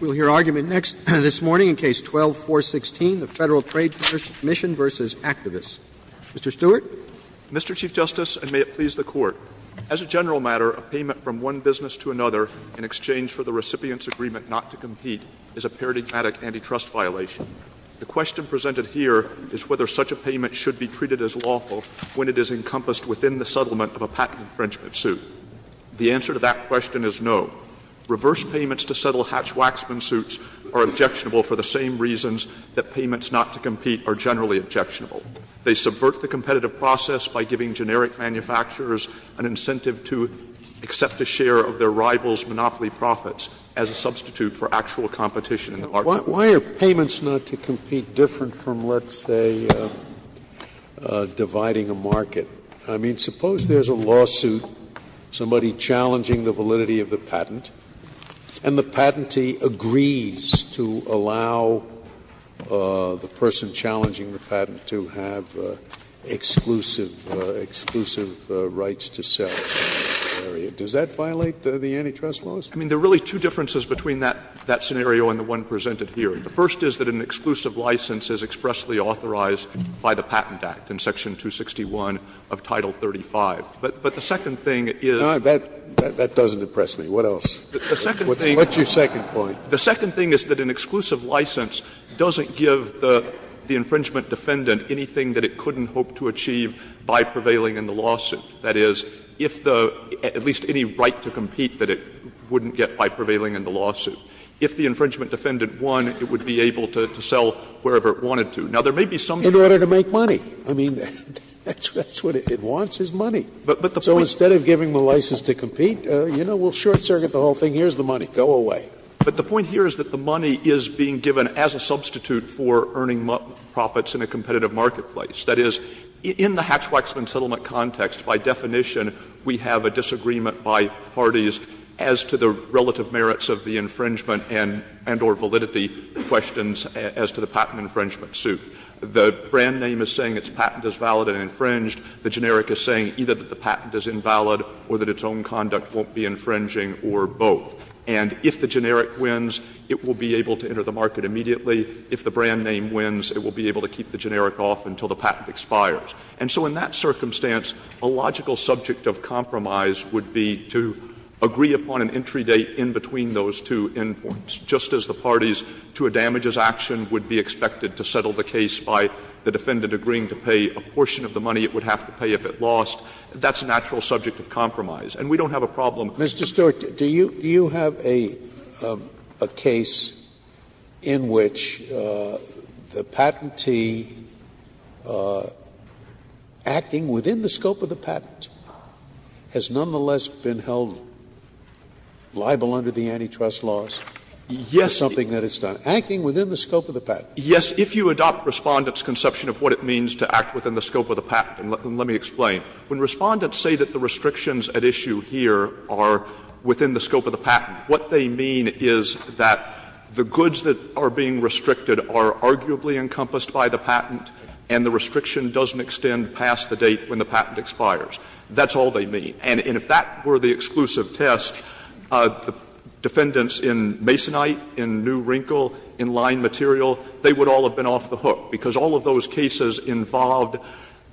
We'll hear argument next — this morning in Case 12-416, the Federal Trade Commission v. Actavis. Mr. Stewart. Mr. Chief Justice, and may it please the Court, as a general matter, a payment from one business to another in exchange for the recipient's agreement not to compete is a paradigmatic antitrust violation. The question presented here is whether such a payment should be treated as lawful when it is encompassed within the settlement of a patent infringement suit. The answer to that question is no. Reverse payments to settle Hatch-Waxman suits are objectionable for the same reasons that payments not to compete are generally objectionable. They subvert the competitive process by giving generic manufacturers an incentive to accept a share of their rival's monopoly profits as a substitute for actual competition in the market. Scalia. Why are payments not to compete different from, let's say, dividing a market? I mean, suppose there's a lawsuit, somebody challenging the validity of the patent, and the patentee agrees to allow the person challenging the patent to have exclusive rights to sell. Does that violate the antitrust laws? I mean, there are really two differences between that scenario and the one presented here. The first is that an exclusive license is expressly authorized by the Patent Act. In Section 261 of Title 35. But the second thing is the second thing is that an exclusive license doesn't give the infringement defendant anything that it couldn't hope to achieve by prevailing in the lawsuit. That is, if the at least any right to compete that it wouldn't get by prevailing in the lawsuit. If the infringement defendant won, it would be able to sell wherever it wanted to. Now, there may be some. Scalia, in order to make money, I mean, that's what it wants, is money. So instead of giving the license to compete, you know, we'll short circuit the whole thing, here's the money, go away. But the point here is that the money is being given as a substitute for earning profits in a competitive marketplace. That is, in the Hatch-Waxman settlement context, by definition, we have a disagreement by parties as to the relative merits of the infringement and or validity questions as to the patent infringement suit. The brand name is saying its patent is valid and infringed. The generic is saying either that the patent is invalid or that its own conduct won't be infringing or both. And if the generic wins, it will be able to enter the market immediately. If the brand name wins, it will be able to keep the generic off until the patent expires. And so in that circumstance, a logical subject of compromise would be to agree upon an entry date in between those two end points, just as the parties to a damages action would be expected to settle the case by the defendant agreeing to pay a portion of the money it would have to pay if it lost. That's a natural subject of compromise. And we don't have a problem. Scalia. Mr. Stewart, do you have a case in which the patentee, acting within the scope of the patent, has nonetheless been held liable under the antitrust laws for something that it's done? Yes. Acting within the scope of the patent. Yes, if you adopt Respondent's conception of what it means to act within the scope of the patent, and let me explain. When Respondents say that the restrictions at issue here are within the scope of the patent, what they mean is that the goods that are being restricted are arguably encompassed by the patent and the restriction doesn't extend past the date when the patent expires. That's all they mean. And if that were the exclusive test, the defendants in Masonite, in New Wrinkle, in Line Material, they would all have been off the hook, because all of those cases involved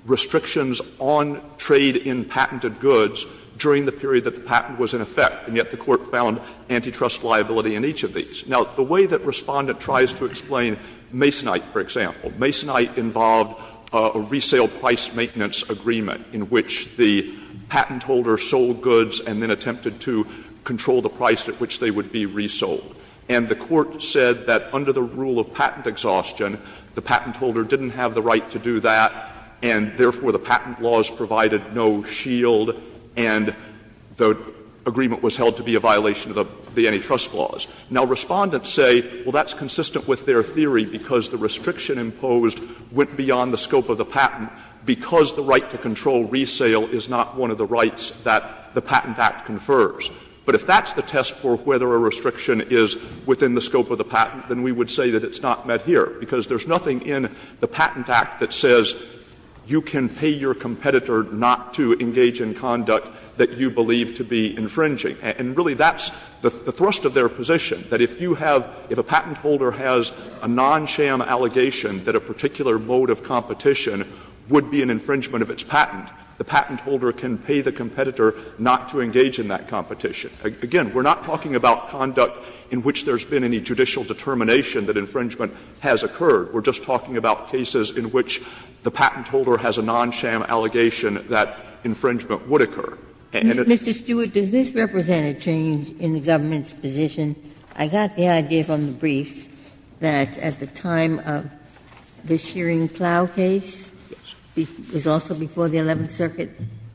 restrictions on trade in patented goods during the period that the patent was in effect, and yet the Court found antitrust liability in each of these. Now, the way that Respondent tries to explain Masonite, for example, Masonite involved a resale price maintenance agreement in which the patent holder sold goods and then attempted to control the price at which they would be resold. And the Court said that under the rule of patent exhaustion, the patent holder didn't have the right to do that, and therefore the patent laws provided no shield, and the agreement was held to be a violation of the antitrust laws. Now, Respondents say, well, that's consistent with their theory, because the restriction imposed went beyond the scope of the patent, because the right to control resale is not one of the rights that the Patent Act confers. But if that's the test for whether a restriction is within the scope of the patent, then we would say that it's not met here, because there's nothing in the Patent Act that says you can pay your competitor not to engage in conduct that you believe to be infringing. And really that's the thrust of their position, that if you have — if a patent holder has a non-SHAM allegation that a particular mode of competition would be an infringement of its patent, the patent holder can pay the competitor not to engage in that competition. Again, we're not talking about conduct in which there's been any judicial determination that infringement has occurred. We're just talking about cases in which the patent holder has a non-SHAM allegation that infringement would occur. And it's the case that the patent holder has a non-SHAM allegation that infringement has occurred, and it's the case that at the time of the Shearing Plough case, it was also before the Eleventh Circuit,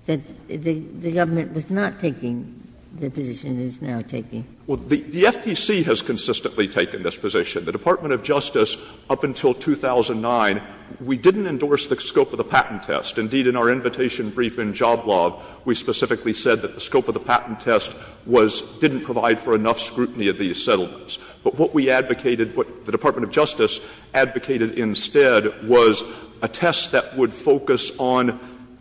that the government was not taking the position it is now taking. Stewart. The FTC has consistently taken this position. The Department of Justice, up until 2009, we didn't endorse the scope of the patent test. Indeed, in our invitation brief in Joblob, we specifically said that the scope of the patent test was — didn't provide for enough scrutiny of these settlements. But what we advocated, what the Department of Justice advocated instead was a test that would focus on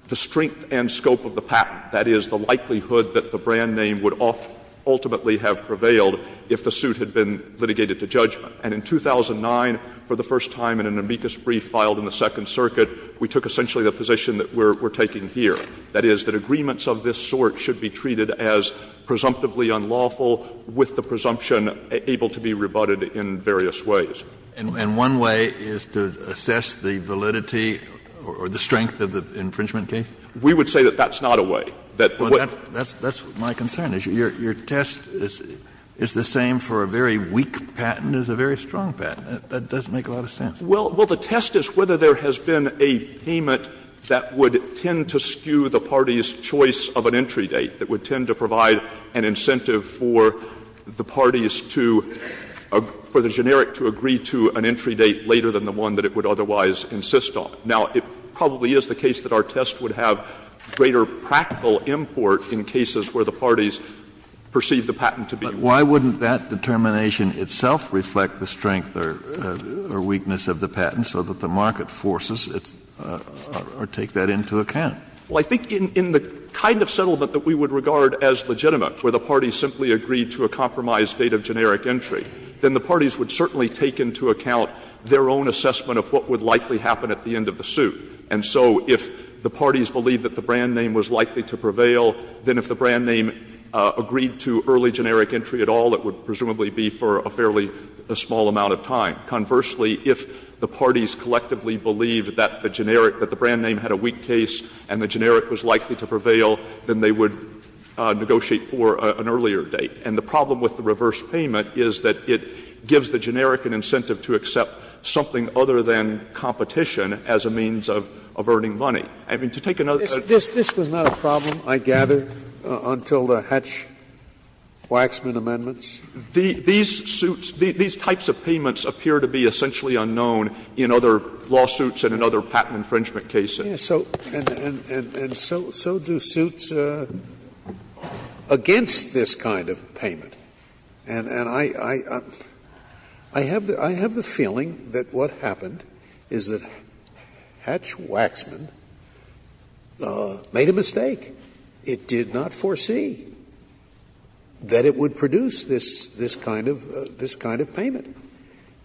the strength and scope of the patent, that is, the likelihood that the brand name would ultimately have prevailed if the suit had been litigated to judgment. And in 2009, for the first time in an amicus brief filed in the Second Circuit, we took essentially the position that we're taking here, that is, that agreements of this sort should be treated as presumptively unlawful with the presumption that the patent has been able to be rebutted in various ways. And one way is to assess the validity or the strength of the infringement case? We would say that that's not a way, that the way the patent has been rebutted is unlawful. That's my concern, is your test is the same for a very weak patent as a very strong patent. That doesn't make a lot of sense. Well, the test is whether there has been a payment that would tend to skew the party's willingness for the generic to agree to an entry date later than the one that it would otherwise insist on. Now, it probably is the case that our test would have greater practical import in cases where the parties perceive the patent to be weak. But why wouldn't that determination itself reflect the strength or weakness of the patent so that the market forces it or take that into account? Well, I think in the kind of settlement that we would regard as legitimate, where the parties simply agreed to a compromised date of generic entry, then the parties would certainly take into account their own assessment of what would likely happen at the end of the suit. And so if the parties believe that the brand name was likely to prevail, then if the brand name agreed to early generic entry at all, it would presumably be for a fairly small amount of time. Conversely, if the parties collectively believed that the generic, that the brand name had a weak case and the generic was likely to prevail, then they would negotiate for an earlier date. And the problem with the reverse payment is that it gives the generic an incentive to accept something other than competition as a means of earning money. I mean, to take another theory. This was not a problem, I gather, until the Hatch-Waxman amendments? These suits, these types of payments appear to be essentially unknown in other lawsuits and in other patent infringement cases. Scalia, and so do suits against this kind of payment. And I have the feeling that what happened is that Hatch-Waxman made a mistake. It did not foresee that it would produce this kind of payment.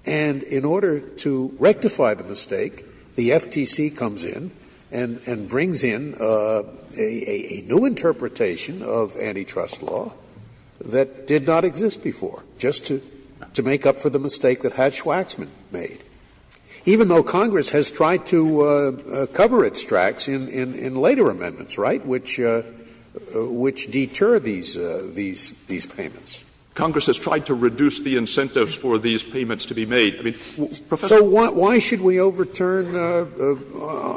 And in order to rectify the mistake, the FTC comes in and brings in a new interpretation of antitrust law that did not exist before, just to make up for the mistake that Hatch-Waxman made. Even though Congress has tried to cover its tracks in later amendments, right, which deter these payments. Congress has tried to reduce the incentives for these payments to be made. I mean, Professor, why should we overturn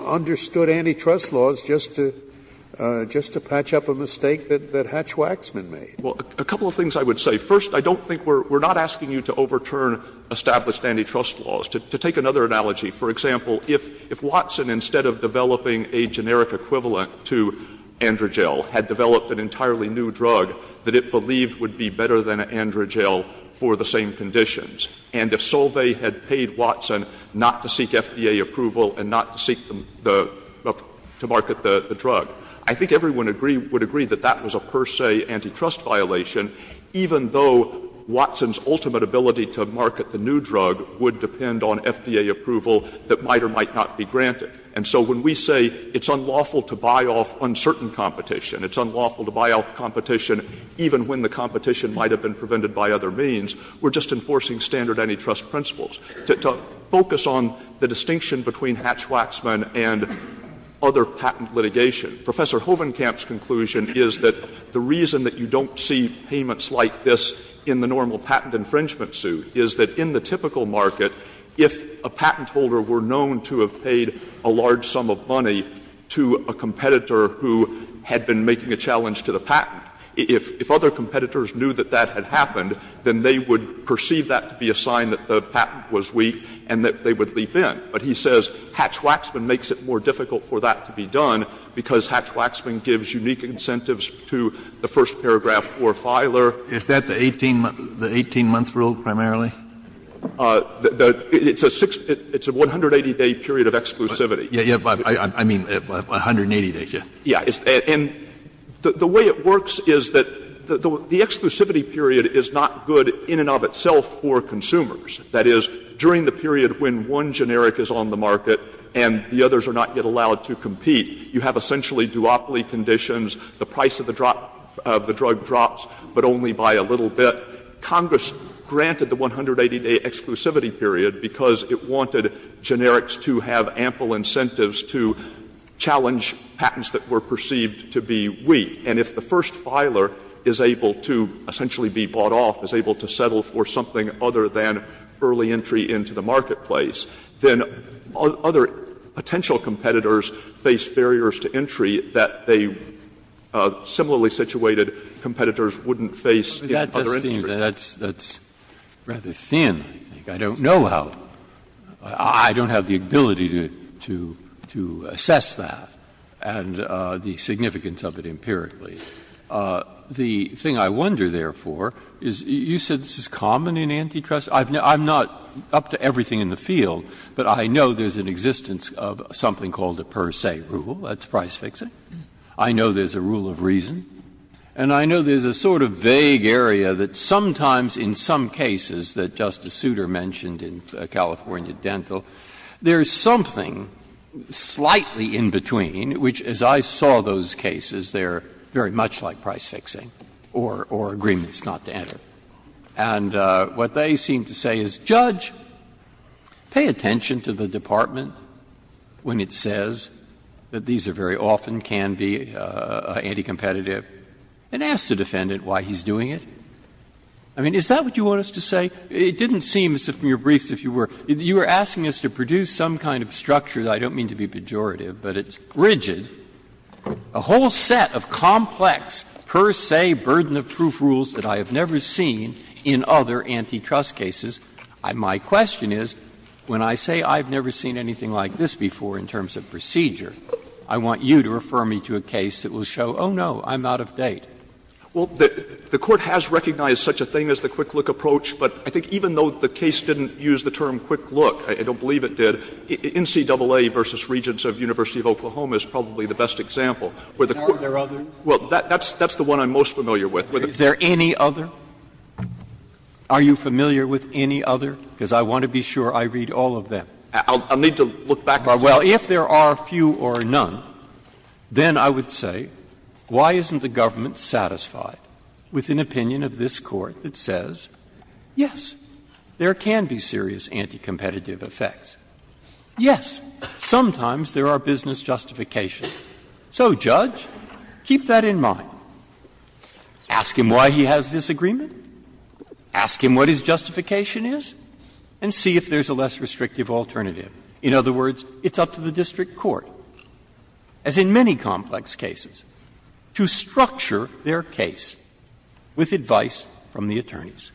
understood antitrust laws just to patch up a mistake that Hatch-Waxman made? Well, a couple of things I would say. First, I don't think we're not asking you to overturn established antitrust laws. To take another analogy, for example, if Watson, instead of developing a generic equivalent to Androgel, had developed an entirely new drug that it believed would be better than Androgel for the same conditions, and if Solvay had paid Watson not to seek FDA approval and not to seek the — to market the drug, I think everyone would agree that that was a per se antitrust violation, even though Watson's ultimate ability to market the new drug would depend on FDA approval that might or might not be granted. And so when we say it's unlawful to buy off uncertain competition, it's unlawful to buy off competition even when the competition might have been prevented by other means. We're just enforcing standard antitrust principles. To focus on the distinction between Hatch-Waxman and other patent litigation, Professor Hovenkamp's conclusion is that the reason that you don't see payments like this in the normal patent infringement suit is that in the typical market, if a patent holder were known to have paid a large sum of money to a competitor who had been making a challenge to the patent, if other competitors knew that that had happened, then they would perceive that to be a sign that the patent was weak and that they would leap in. But he says Hatch-Waxman makes it more difficult for that to be done because Hatch-Waxman gives unique incentives to the first paragraph for a filer. Kennedy, is that the 18-month rule primarily? It's a 6 — it's a 180-day period of exclusivity. I mean, 180 days, yes. Yeah. And the way it works is that the exclusivity period is not good in and of itself for consumers. That is, during the period when one generic is on the market and the others are not yet allowed to compete, you have essentially duopoly conditions, the price of the drop — of the drug drops, but only by a little bit. Congress granted the 180-day exclusivity period because it wanted generics to have ample incentives to challenge patents that were perceived to be weak. And if the first filer is able to essentially be bought off, is able to settle for something other than early entry into the marketplace, then other potential competitors face barriers to entry that they — similarly situated competitors wouldn't face in other industries. Breyer, that does seem that that's rather thin, I think. I don't know how. I don't have the ability to assess that and the significance of it empirically. The thing I wonder, therefore, is you said this is common in antitrust. I'm not up to everything in the field, but I know there's an existence of something called a per se rule. That's price fixing. I know there's a rule of reason. And I know there's a sort of vague area that sometimes in some cases that Justice Souter mentioned in California Dental, there's something slightly in between which, as I saw those cases, they're very much like price fixing or agreements not to enter. And what they seem to say is, Judge, pay attention to the Department when it says that these are very often can be anti-competitive, and ask the defendant why he's doing it. I mean, is that what you want us to say? It didn't seem, from your briefs, if you were, you were asking us to produce some kind of structure. I don't mean to be pejorative, but it's rigid. A whole set of complex per se burden of proof rules that I have never seen in other antitrust cases. My question is, when I say I've never seen anything like this before in terms of procedure, I want you to refer me to a case that will show, oh, no, I'm out of date. Well, the Court has recognized such a thing as the quick-look approach, but I think even though the case didn't use the term quick-look, I don't believe it did, NCAA v. Regents of University of Oklahoma is probably the best example where the Court of Appeals. Breyer, are there others? Well, that's the one I'm most familiar with. Is there any other? Are you familiar with any other? Because I want to be sure I read all of them. I'll need to look back and see. Well, if there are few or none, then I would say, why isn't the government satisfied with an opinion of this Court that says, yes, there can be serious anti-competitive effects? Yes, sometimes there are business justifications. So, Judge, keep that in mind. Ask him why he has this agreement. Ask him what his justification is. And see if there's a less restrictive alternative. In other words, it's up to the district court, as in many complex cases, to structure their case with advice from the attorneys.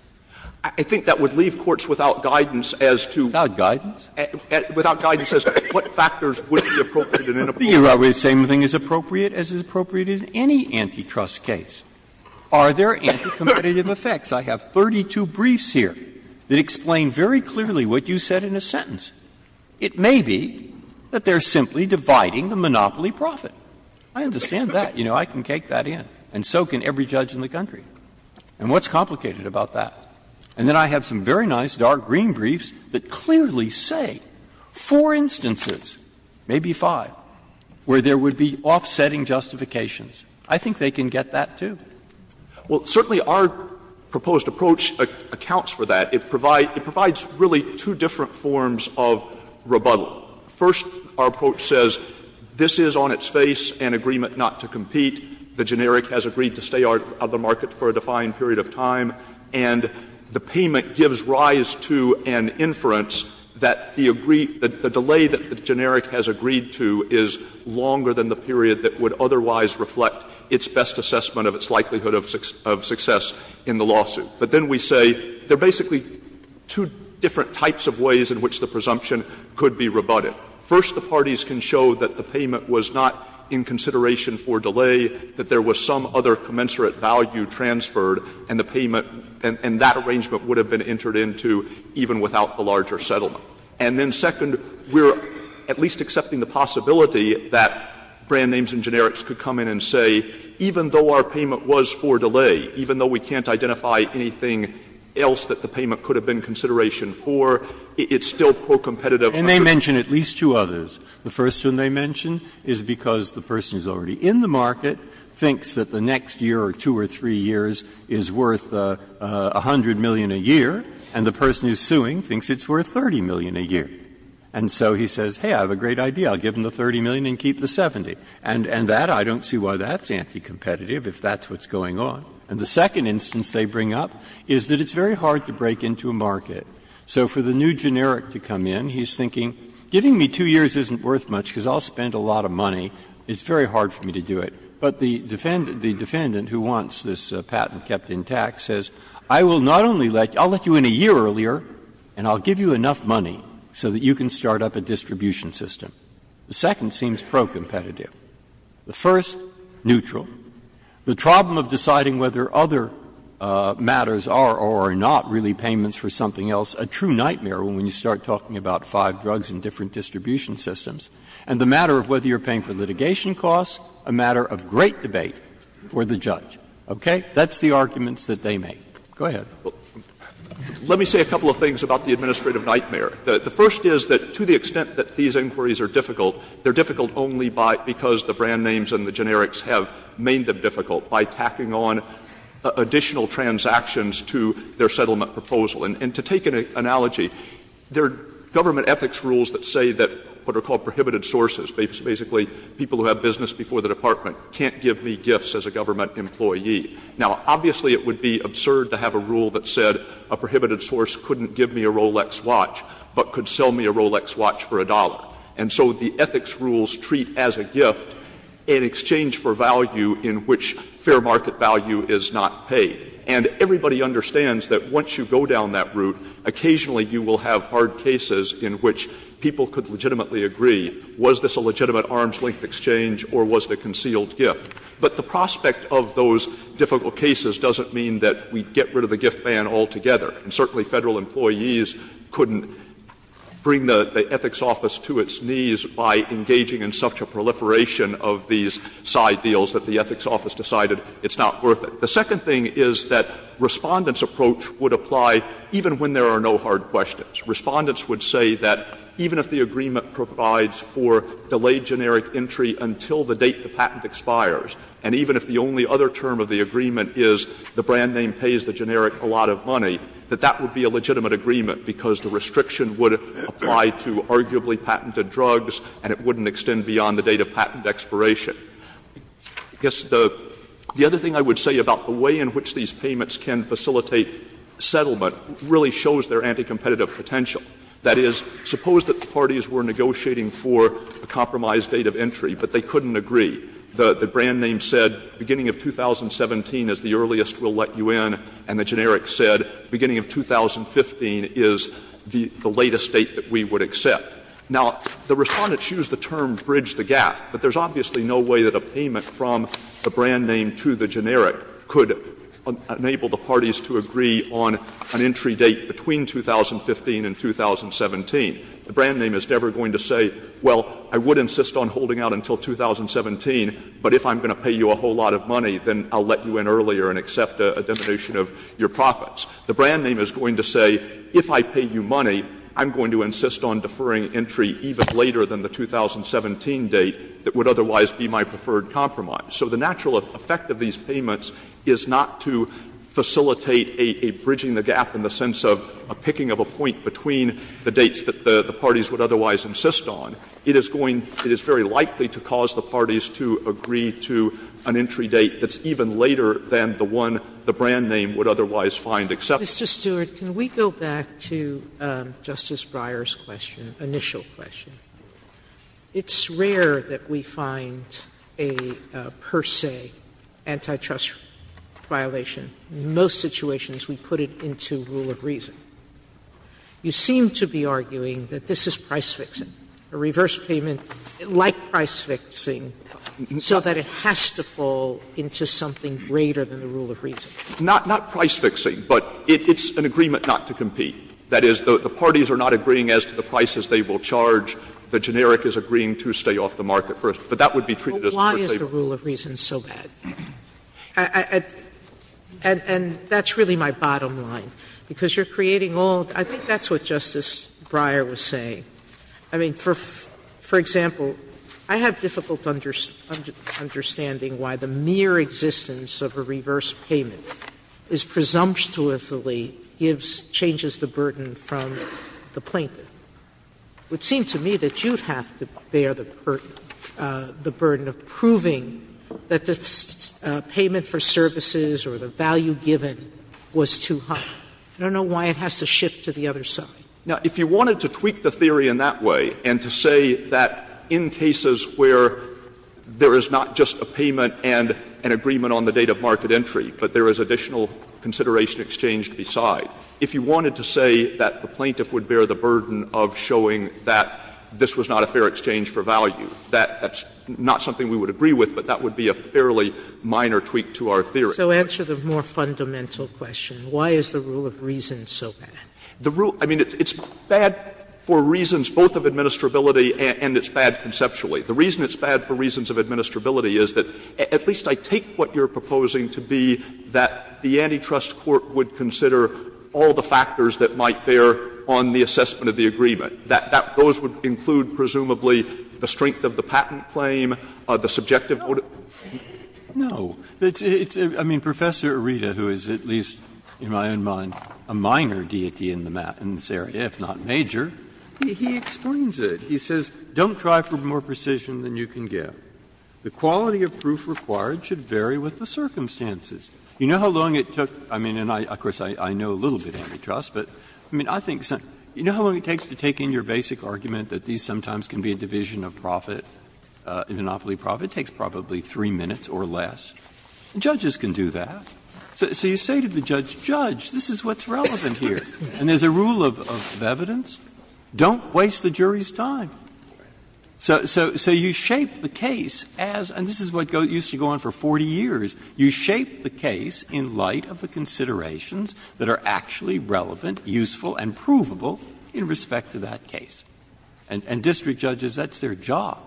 I think that would leave courts without guidance as to what factors would be appropriate in an appropriate case. The same thing is appropriate as is appropriate in any antitrust case. Are there anti-competitive effects? I have 32 briefs here that explain very clearly what you said in a sentence. It may be that they're simply dividing the monopoly profit. I understand that. You know, I can take that in, and so can every judge in the country. And what's complicated about that? And then I have some very nice dark green briefs that clearly say four instances, maybe five, where there would be offsetting justifications. I think they can get that, too. Well, certainly our proposed approach accounts for that. It provides really two different forms of rebuttal. First, our approach says this is on its face an agreement not to compete. The generic has agreed to stay out of the market for a defined period of time. And the payment gives rise to an inference that the delay that the generic has agreed to is longer than the period that would otherwise reflect its best assessment of its likelihood of success in the lawsuit. But then we say there are basically two different types of ways in which the presumption could be rebutted. First, the parties can show that the payment was not in consideration for delay, that there was some other commensurate value transferred, and the payment and that arrangement would have been entered into even without the larger settlement. And then second, we're at least accepting the possibility that brand names and generics could come in and say, even though our payment was for delay, even though we can't identify anything else that the payment could have been consideration for, it's still pro-competitive. Breyer. And they mention at least two others. The first one they mention is because the person who is already in the market thinks that the next year or two or three years is worth 100 million a year, and the person who is suing thinks it's worth 30 million a year. And so he says, hey, I have a great idea. I'll give him the 30 million and keep the 70. And that, I don't see why that's anti-competitive, if that's what's going on. And the second instance they bring up is that it's very hard to break into a market. So for the new generic to come in, he's thinking, giving me two years isn't worth much because I'll spend a lot of money. It's very hard for me to do it. But the defendant who wants this patent kept intact says, I will not only let you – I'll let you in a year earlier and I'll give you enough money so that you can start up a distribution system. The second seems pro-competitive. The first, neutral. The problem of deciding whether other matters are or are not really payments for something else, a true nightmare when you start talking about five drugs and different distribution systems. And the matter of whether you're paying for litigation costs, a matter of great debate for the judge. Okay? That's the arguments that they make. Go ahead. Stewart. Let me say a couple of things about the administrative nightmare. The first is that to the extent that these inquiries are difficult, they're difficult only because the brand names and the generics have made them difficult by tacking on additional transactions to their settlement proposal. And to take an analogy, there are government ethics rules that say that what are called prohibited sources, basically people who have business before the department, can't give me gifts as a government employee. Now, obviously it would be absurd to have a rule that said a prohibited source couldn't give me a Rolex watch, but could sell me a Rolex watch for a dollar. And so the ethics rules treat as a gift an exchange for value in which fair market value is not paid. And everybody understands that once you go down that route, occasionally you will have hard cases in which people could legitimately agree, was this a legitimate arms-length exchange or was it a concealed gift? But the prospect of those difficult cases doesn't mean that we get rid of the gift ban altogether. And certainly Federal employees couldn't bring the ethics office to its knees by engaging in such a proliferation of these side deals that the ethics office decided it's not worth it. The second thing is that Respondent's approach would apply even when there are no hard questions. Respondents would say that even if the agreement provides for delayed generic entry until the date the patent expires, and even if the only other term of the agreement is the brand name pays the generic a lot of money, that that would be a legitimate agreement because the restriction would apply to arguably patented drugs and it wouldn't extend beyond the date of patent expiration. I guess the other thing I would say about the way in which these payments can facilitate settlement really shows their anti-competitive potential. That is, suppose that the parties were negotiating for a compromised date of entry, but they couldn't agree. The brand name said beginning of 2017 is the earliest we'll let you in, and the generic said beginning of 2015 is the latest date that we would accept. Now, the Respondents used the term bridge the gap, but there's obviously no way that a payment from the brand name to the generic could enable the parties to agree on an entry date between 2015 and 2017. The brand name is never going to say, well, I would insist on holding out until 2017, but if I'm going to pay you a whole lot of money, then I'll let you in earlier and accept a diminution of your profits. The brand name is going to say, if I pay you money, I'm going to insist on deferring entry even later than the 2017 date that would otherwise be my preferred compromise. So the natural effect of these payments is not to facilitate a bridging the gap in the dates that the parties would otherwise insist on. It is going to be very likely to cause the parties to agree to an entry date that's even later than the one the brand name would otherwise find acceptable. Sotomayor, can we go back to Justice Breyer's question, initial question? It's rare that we find a per se antitrust violation. In most situations, we put it into rule of reason. You seem to be arguing that this is price fixing, a reverse payment like price fixing, so that it has to fall into something greater than the rule of reason. Not price fixing, but it's an agreement not to compete. That is, the parties are not agreeing as to the prices they will charge. The generic is agreeing to stay off the market first, but that would be treated as a per se violation. Well, why is the rule of reason so bad? And that's really my bottom line, because you're creating all the – I think that's what Justice Breyer was saying. I mean, for example, I have difficult understanding why the mere existence of a reverse payment is presumptuously gives – changes the burden from the plaintiff. It would seem to me that you'd have to bear the burden of proving that the state payment for services or the value given was too high. I don't know why it has to shift to the other side. Now, if you wanted to tweak the theory in that way and to say that in cases where there is not just a payment and an agreement on the date of market entry, but there is additional consideration exchanged beside, if you wanted to say that the plaintiff would bear the burden of showing that this was not a fair exchange for value, that that's not something we would agree with, but that would be a fairly minor tweak to our theory. Sotomayor So answer the more fundamental question. Why is the rule of reason so bad? Stewart The rule – I mean, it's bad for reasons both of administrability and it's bad conceptually. The reason it's bad for reasons of administrability is that at least I take what you're proposing to be that the antitrust court would consider all the factors that might bear on the assessment of the agreement, that those would include presumably the strength of the patent claim, the subjective order. Breyer No. It's – I mean, Professor Ireda, who is at least in my own mind a minor deity in this area, if not major, he explains it. He says, Don't try for more precision than you can get. The quality of proof required should vary with the circumstances. You know how long it took? I mean, and I – of course, I know a little bit of antitrust, but I mean, I think some – you know how long it takes to take in your basic argument that these sometimes can be a division of profit, a monopoly profit, takes probably 3 minutes or less? Judges can do that. So you say to the judge, Judge, this is what's relevant here. And there's a rule of evidence, don't waste the jury's time. So you shape the case as – and this is what used to go on for 40 years. You shape the case in light of the considerations that are actually relevant, useful, and provable in respect to that case. And district judges, that's their job.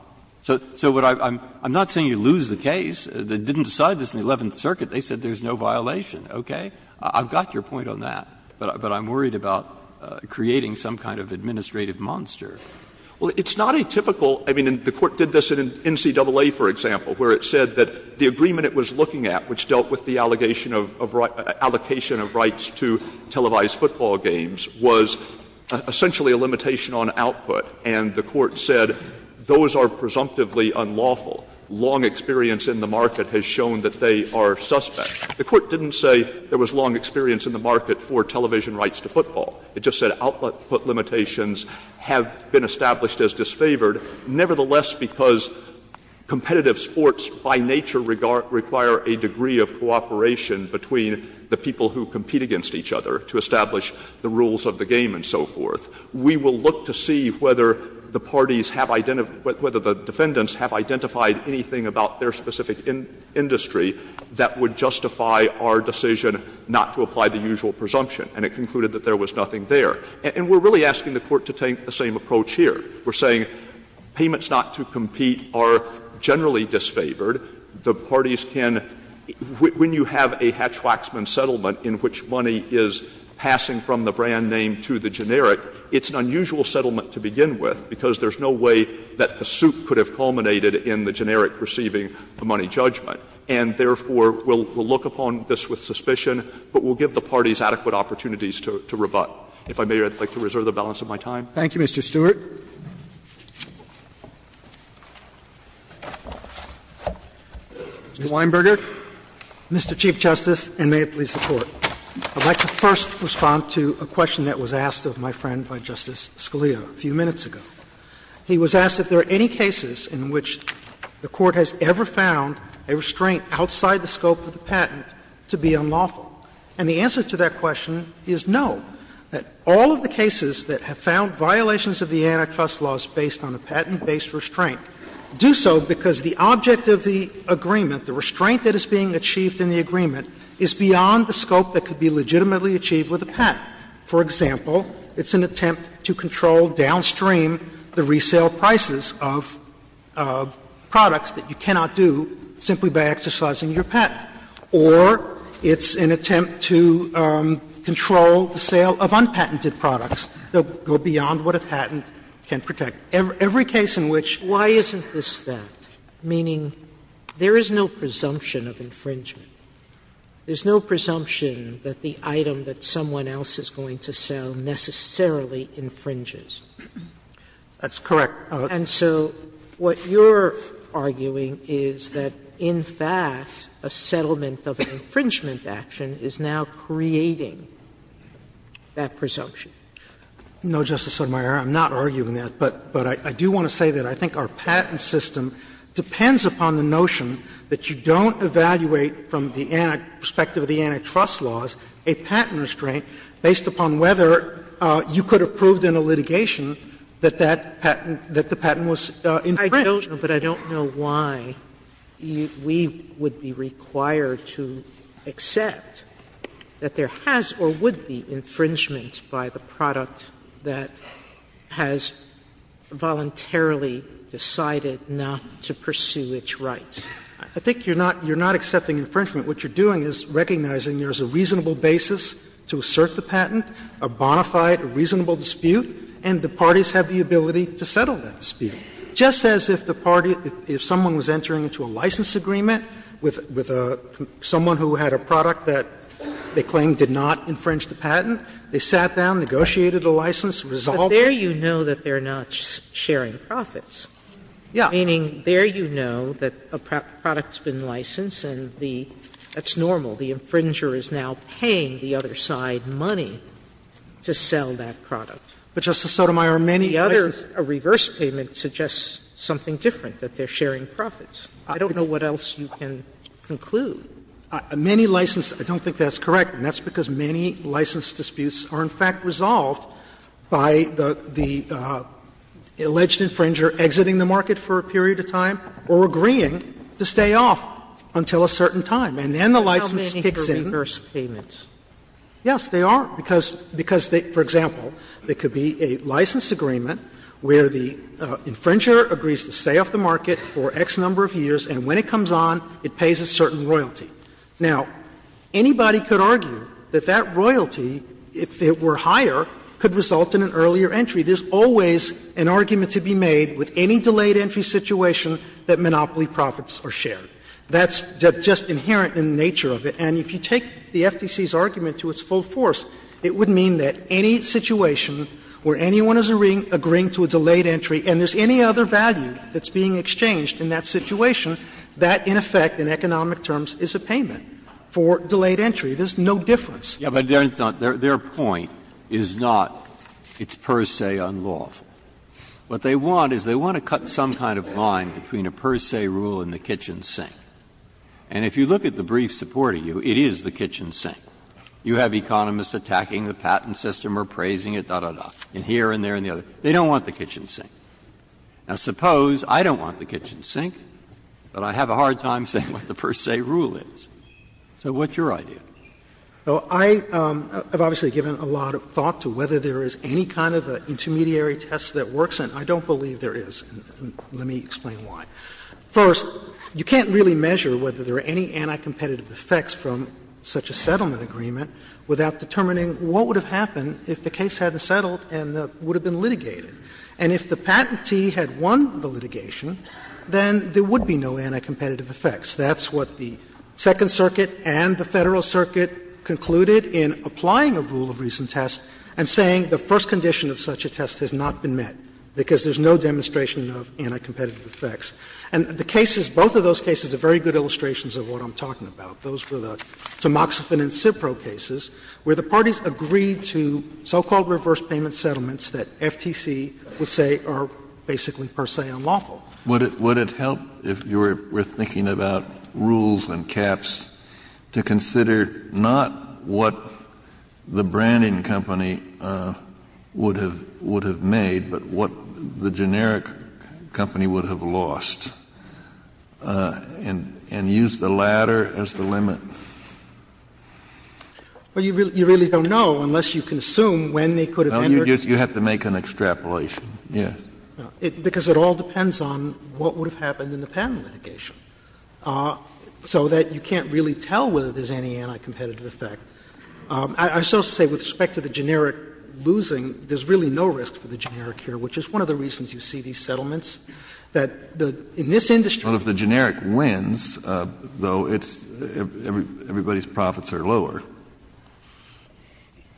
So what I'm – I'm not saying you lose the case. They didn't decide this in the Eleventh Circuit. They said there's no violation, okay? I've got your point on that, but I'm worried about creating some kind of administrative monster. Well, it's not a typical – I mean, the Court did this in NCAA, for example, where it said that the agreement it was looking at, which dealt with the allocation of rights to televised football games, was essentially a limitation on output. And the Court said those are presumptively unlawful. Long experience in the market has shown that they are suspect. The Court didn't say there was long experience in the market for television rights to football. It just said output limitations have been established as disfavored. Nevertheless, because competitive sports by nature require a degree of cooperation between the people who compete against each other to establish the rules of the game and so forth, we will look to see whether the parties have – whether the defendants have identified anything about their specific industry that would justify our decision not to apply the usual presumption. And it concluded that there was nothing there. And we're really asking the Court to take the same approach here. We're saying payments not to compete are generally disfavored. The parties can – when you have a hatchwaxman settlement in which money is passing from the brand name to the generic, it's an unusual settlement to begin with, because there's no way that the suit could have culminated in the generic receiving the money judgment. And therefore, we'll look upon this with suspicion, but we'll give the parties adequate opportunities to rebut. If I may, I'd like to reserve the balance of my time. Thank you, Mr. Stewart. Mr. Weinberger. Mr. Chief Justice, and may it please the Court, I'd like to first respond to a question that was asked of my friend by Justice Scalia a few minutes ago. He was asked if there are any cases in which the Court has ever found a restraint outside the scope of the patent to be unlawful. And the answer to that question is no, that all of the cases that have found violations of the antitrust laws based on a patent-based restraint do so because the object of the agreement, the restraint that is being achieved in the agreement, is beyond the scope that could be legitimately achieved with a patent. For example, it's an attempt to control downstream the resale prices of products that you cannot do simply by exercising your patent, or it's an attempt to control the sale of unpatented products that go beyond what a patent can protect. Every case in which Sotomayor Why isn't this that, meaning there is no presumption of infringement? There's no presumption that the item that someone else is going to sell necessarily infringes. That's correct. Sotomayor And so what you're arguing is that, in fact, a settlement of an infringement action is now creating that presumption. No, Justice Sotomayor, I'm not arguing that. But I do want to say that I think our patent system depends upon the notion that you don't evaluate from the perspective of the antitrust laws a patent restraint based upon whether you could have proved in a litigation that that patent, that the patent was infringed. Sotomayor I don't know, but I don't know why we would be required to accept that there has or would be infringement by the product that has voluntarily decided not to pursue its rights. I think you're not accepting infringement. What you're doing is recognizing there is a reasonable basis to assert the patent, a bona fide, reasonable dispute, and the parties have the ability to settle that dispute. Just as if the party, if someone was entering into a license agreement with someone who had a product that they claim did not infringe the patent, they sat down, negotiated a license, resolved it. Sotomayor But there you know that they are not sharing profits. Sotomayor Yes. Sotomayor Meaning there you know that a product has been licensed and that's normal. The infringer is now paying the other side money to sell that product. Sotomayor But, Justice Sotomayor, many others. Sotomayor A reverse payment suggests something different, that they are sharing profits. I don't know what else you can conclude. Sotomayor Many license, I don't think that's correct, and that's because many license disputes are, in fact, resolved by the alleged infringer exiting the market for a period of time or agreeing to stay off until a certain time, and then the license kicks in. Sotomayor How many are reverse payments? Sotomayor Yes, they are, because, for example, there could be a license agreement where the infringer agrees to stay off the market for X number of years, and when it comes on, it pays a certain royalty. Now, anybody could argue that that royalty, if it were higher, could result in an earlier entry. There's always an argument to be made with any delayed entry situation that Monopoly profits are shared. That's just inherent in the nature of it, and if you take the FTC's argument to its full force, it would mean that any situation where anyone is agreeing to a delayed entry and there's any other value that's being exchanged in that situation, that, in effect, in economic terms, is a payment for delayed entry. There's no difference. Breyer. Yeah, but their point is not it's per se unlawful. What they want is they want to cut some kind of line between a per se rule and the kitchen sink. And if you look at the brief supporting you, it is the kitchen sink. You have economists attacking the patent system or praising it, da, da, da, here and there and the other. They don't want the kitchen sink. Now, suppose I don't want the kitchen sink, but I have a hard time saying what the per se rule is. So what's your idea? I have obviously given a lot of thought to whether there is any kind of an intermediary test that works, and I don't believe there is. Let me explain why. First, you can't really measure whether there are any anti-competitive effects from such a settlement agreement without determining what would have happened if the case hadn't settled and would have been litigated. And if the patentee had won the litigation, then there would be no anti-competitive effects. That's what the Second Circuit and the Federal Circuit concluded in applying a rule of reason test and saying the first condition of such a test has not been met, because there is no demonstration of anti-competitive effects. And the cases, both of those cases are very good illustrations of what I'm talking about. Those were the Tamoxifen and Cipro cases, where the parties agreed to so-called reverse payment settlements that FTC would say are basically, per se, unlawful. Kennedy, would it help if you were thinking about rules and caps to consider not what the branding company would have made, but what the generic company would have lost, and use the latter as the limit? Well, you really don't know unless you can assume when they could have entered. You have to make an extrapolation, yes. Because it all depends on what would have happened in the patent litigation. So that you can't really tell whether there's any anti-competitive effect. I shall say with respect to the generic losing, there's really no risk for the generic here, which is one of the reasons you see these settlements, that in this industry But if the generic wins, though, it's — everybody's profits are lower.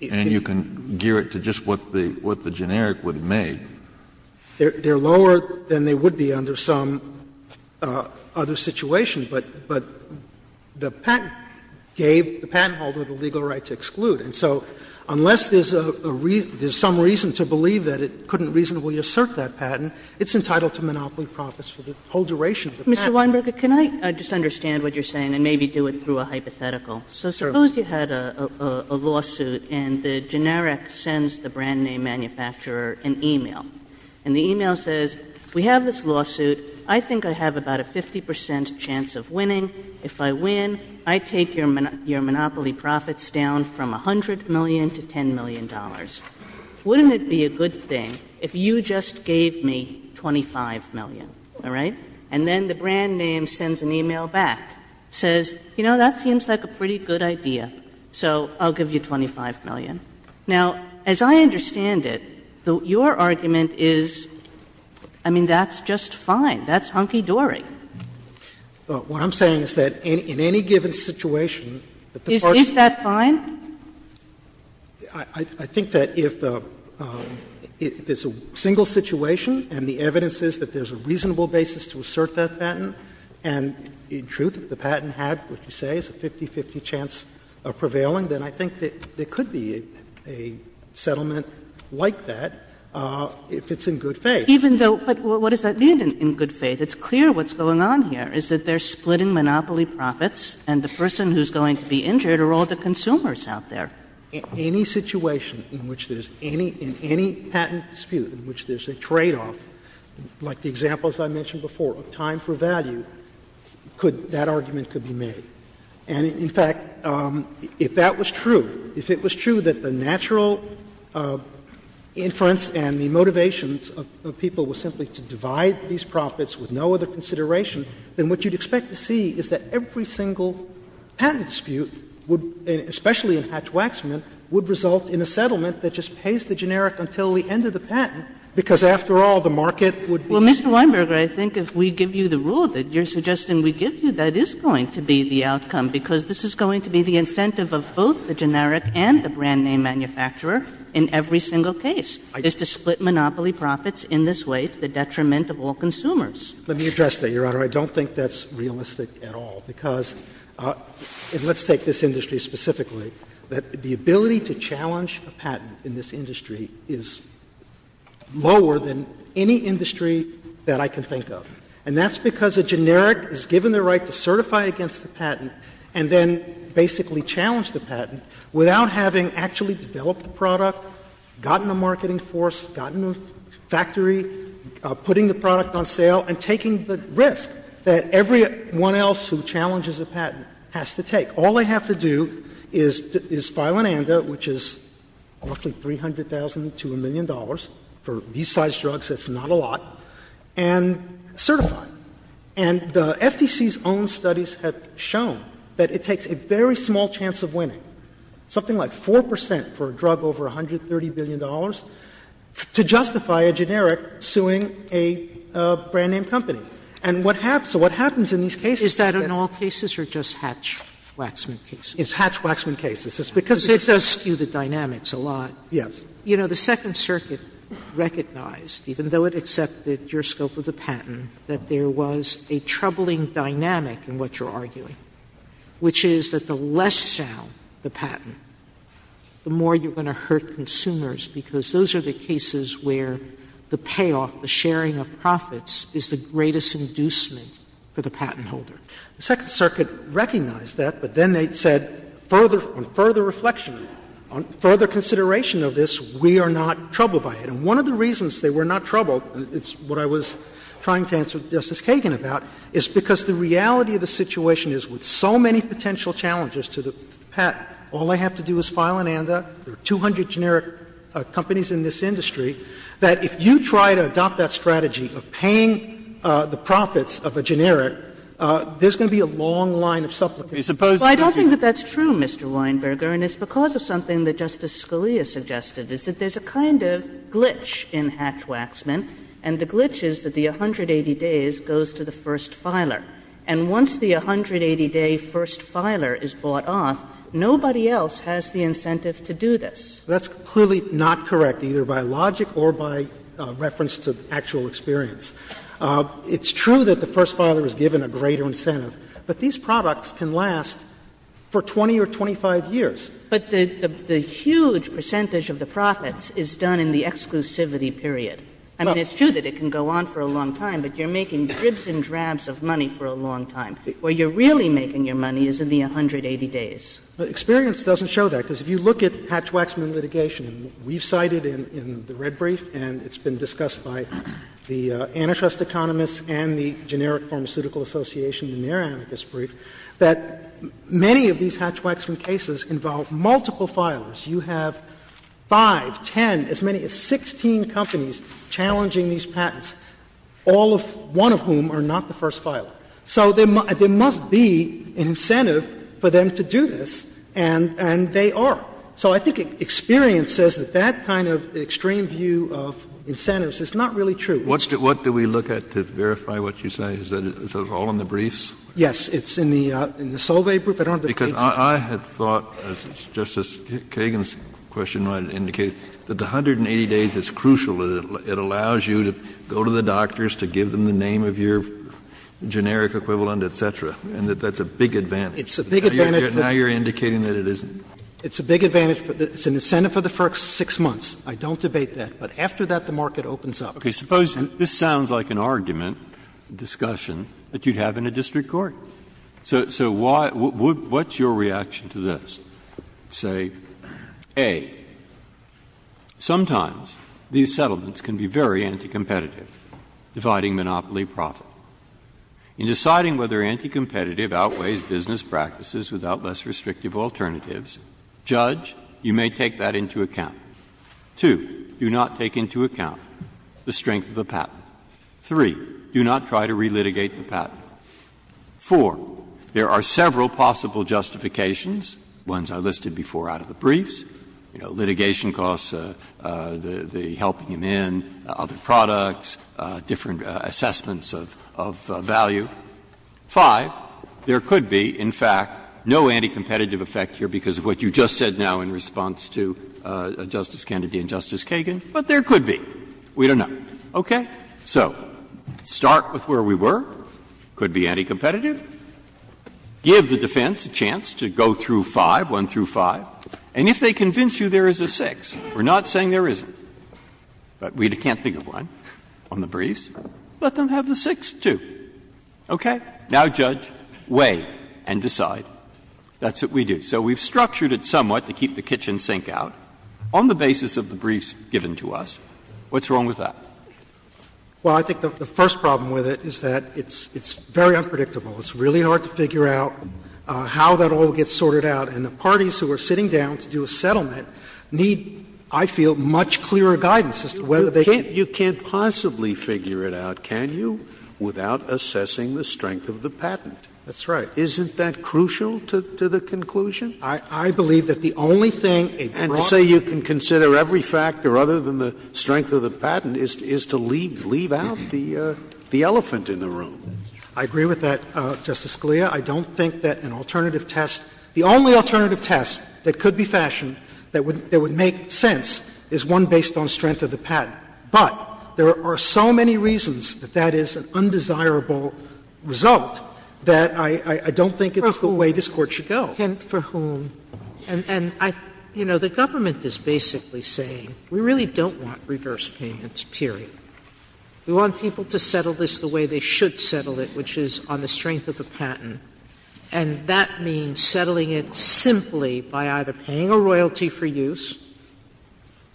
And you can gear it to just what the generic would have made. They're lower than they would be under some other situation. But the patent gave the patent holder the legal right to exclude. And so unless there's a reason, there's some reason to believe that it couldn't reasonably assert that patent, it's entitled to monopoly profits for the whole duration of the patent. Mr. Weinberger, can I just understand what you're saying and maybe do it through a hypothetical? So suppose you had a lawsuit, and the generic sends the brand name manufacturer an e-mail. And the e-mail says, we have this lawsuit. I think I have about a 50 percent chance of winning. If I win, I take your monopoly profits down from $100 million to $10 million. Wouldn't it be a good thing if you just gave me $25 million, all right? And then the brand name sends an e-mail back, says, you know, that seems like a pretty good idea, so I'll give you $25 million. Now, as I understand it, your argument is, I mean, that's just fine. That's hunky-dory. What I'm saying is that in any given situation, the parties that are in the situation assert that patent, and in truth, if the patent had what you say is a 50-50 chance of prevailing, then I think that there could be a settlement like that if it's in good faith. Even though — but what does that mean, in good faith? It's clear what's going on here, is that they're splitting monopoly profits, and the person who's going to be injured are all the consumers out there. Any situation in which there's any — in any patent dispute in which there's a tradeoff like the examples I mentioned before of time for value, could — that argument could be made. And, in fact, if that was true, if it was true that the natural inference and the motivations of people were simply to divide these profits with no other consideration, then what you'd expect to see is that every single patent dispute would — especially in Hatch-Waxman — would result in a settlement that just pays the generic until the end of the patent, because, after all, the market would be— Kagan Well, Mr. Weinberger, I think if we give you the rule that you're suggesting we give you, that is going to be the outcome, because this is going to be the incentive of both the generic and the brand-name manufacturer in every single case, is to split monopoly profits in this way to the detriment of all consumers. Weinberger Let me address that, Your Honor. I don't think that's realistic at all, because — and let's take this industry specifically — that the ability to challenge a patent in this industry is lower than any industry that I can think of. And that's because a generic is given the right to certify against a patent and then basically challenge the patent without having actually developed the product, gotten a marketing force, gotten a factory, putting the product on sale, and taking the risk that everyone else who challenges a patent has to take. All they have to do is file an ANDA, which is roughly $300,000 to $1 million. For these size drugs, that's not a lot, and certify. And the FTC's own studies have shown that it takes a very small chance of winning, something like 4 percent for a drug over $130 billion, to justify a generic suing a brand-name company. And what happens — what happens in these cases— Sotomayor, in all cases, or just Hatch-Waxman cases? It's Hatch-Waxman cases. It's because— Sotomayor, it does skew the dynamics a lot. Yes. You know, the Second Circuit recognized, even though it accepted your scope of the patent, that there was a troubling dynamic in what you're arguing, which is that the less sound the patent, the more you're going to hurt consumers, because those are the cases where the payoff, the sharing of profits, is the greatest inducement for the patent holder. The Second Circuit recognized that, but then they said, on further reflection, on further consideration of this, we are not troubled by it. And one of the reasons they were not troubled, and it's what I was trying to answer Justice Kagan about, is because the reality of the situation is, with so many potential challenges to the patent, all they have to do is file an ANDA. There are 200 generic companies in this industry that, if you try to adopt that strategy of paying the profits of a generic, there's going to be a long line of supplicants. Sotomayor, I don't think that that's true, Mr. Weinberger, and it's because of something that Justice Scalia suggested, is that there's a kind of glitch in Hatch-Waxman, and the glitch is that the 180 days goes to the first filer. And once the 180-day first filer is bought off, nobody else has the incentive to do this. That's clearly not correct, either by logic or by reference to actual experience. It's true that the first filer is given a greater incentive, but these products can last for 20 or 25 years. But the huge percentage of the profits is done in the exclusivity period. I mean, it's true that it can go on for a long time, but you're making dribs and drabs of money for a long time. Where you're really making your money is in the 180 days. Experience doesn't show that, because if you look at Hatch-Waxman litigation, we've cited in the red brief, and it's been discussed by the antitrust economists and the Generic Pharmaceutical Association in their antitrust brief, that many of these Hatch-Waxman cases involve multiple filers. You have 5, 10, as many as 16 companies challenging these patents, all of one of whom are not the first filer. So there must be an incentive for them to do this, and they are. So I think experience says that that kind of extreme view of incentives is not really true. Kennedy, what do we look at to verify what you say? Is that all in the briefs? Yes. It's in the Solveig brief. I don't have the page. Because I had thought, as Justice Kagan's question might indicate, that the 180 days is crucial. It allows you to go to the doctors, to give them the name of your generic equivalent, et cetera, and that that's a big advantage. Now you're indicating that it isn't? It's a big advantage. It's an incentive for the first 6 months. I don't debate that. But after that, the market opens up. Okay. Suppose this sounds like an argument, discussion, that you'd have in a district court. So why — what's your reaction to this? Say, A, sometimes these settlements can be very anti-competitive, dividing monopoly profit. In deciding whether anti-competitive outweighs business practices without less restrictive alternatives, Judge, you may take that into account. Two, do not take into account the strength of the patent. Three, do not try to relitigate the patent. Four, there are several possible justifications. Ones I listed before out of the briefs. You know, litigation costs, the helping them in, other products, different assessments of value. Five, there could be, in fact, no anti-competitive effect here because of what you just said now in response to Justice Kennedy and Justice Kagan, but there could be. We don't know. Okay? So start with where we were. Could be anti-competitive. Give the defense a chance to go through five, one through five. And if they convince you there is a six, we're not saying there isn't, but we can't think of one on the briefs, let them have the six, too. Okay? Now, Judge, weigh and decide. That's what we do. So we've structured it somewhat to keep the kitchen sink out on the basis of the briefs given to us. What's wrong with that? Well, I think the first problem with it is that it's very unpredictable. It's really hard to figure out how that all gets sorted out. And the parties who are sitting down to do a settlement need, I feel, much clearer guidance as to whether they can't. You can't possibly figure it out, can you, without assessing the strength of the patent? That's right. Isn't that crucial to the conclusion? I believe that the only thing a broadcaster can do is to assess the strength of the patent, is to leave out the elephant in the room. I agree with that, Justice Scalia. I don't think that an alternative test, the only alternative test that could be fashioned that would make sense is one based on strength of the patent. But there are so many reasons that that is an undesirable result that I don't think it's the way this Court should go. And for whom? And, you know, the government is basically saying we really don't want reverse payments, period. We want people to settle this the way they should settle it, which is on the strength of the patent. And that means settling it simply by either paying a royalty for use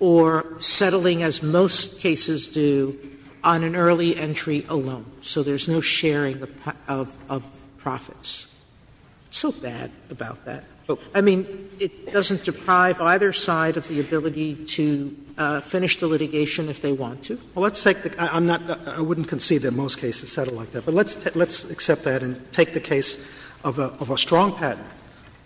or settling, as most cases do, on an early entry alone. So there's no sharing of profits. It's so bad about that. Sotomayor, I mean, it doesn't deprive either side of the ability to finish the litigation if they want to? Well, let's take the — I'm not — I wouldn't concede that most cases settle like that. But let's accept that and take the case of a strong patent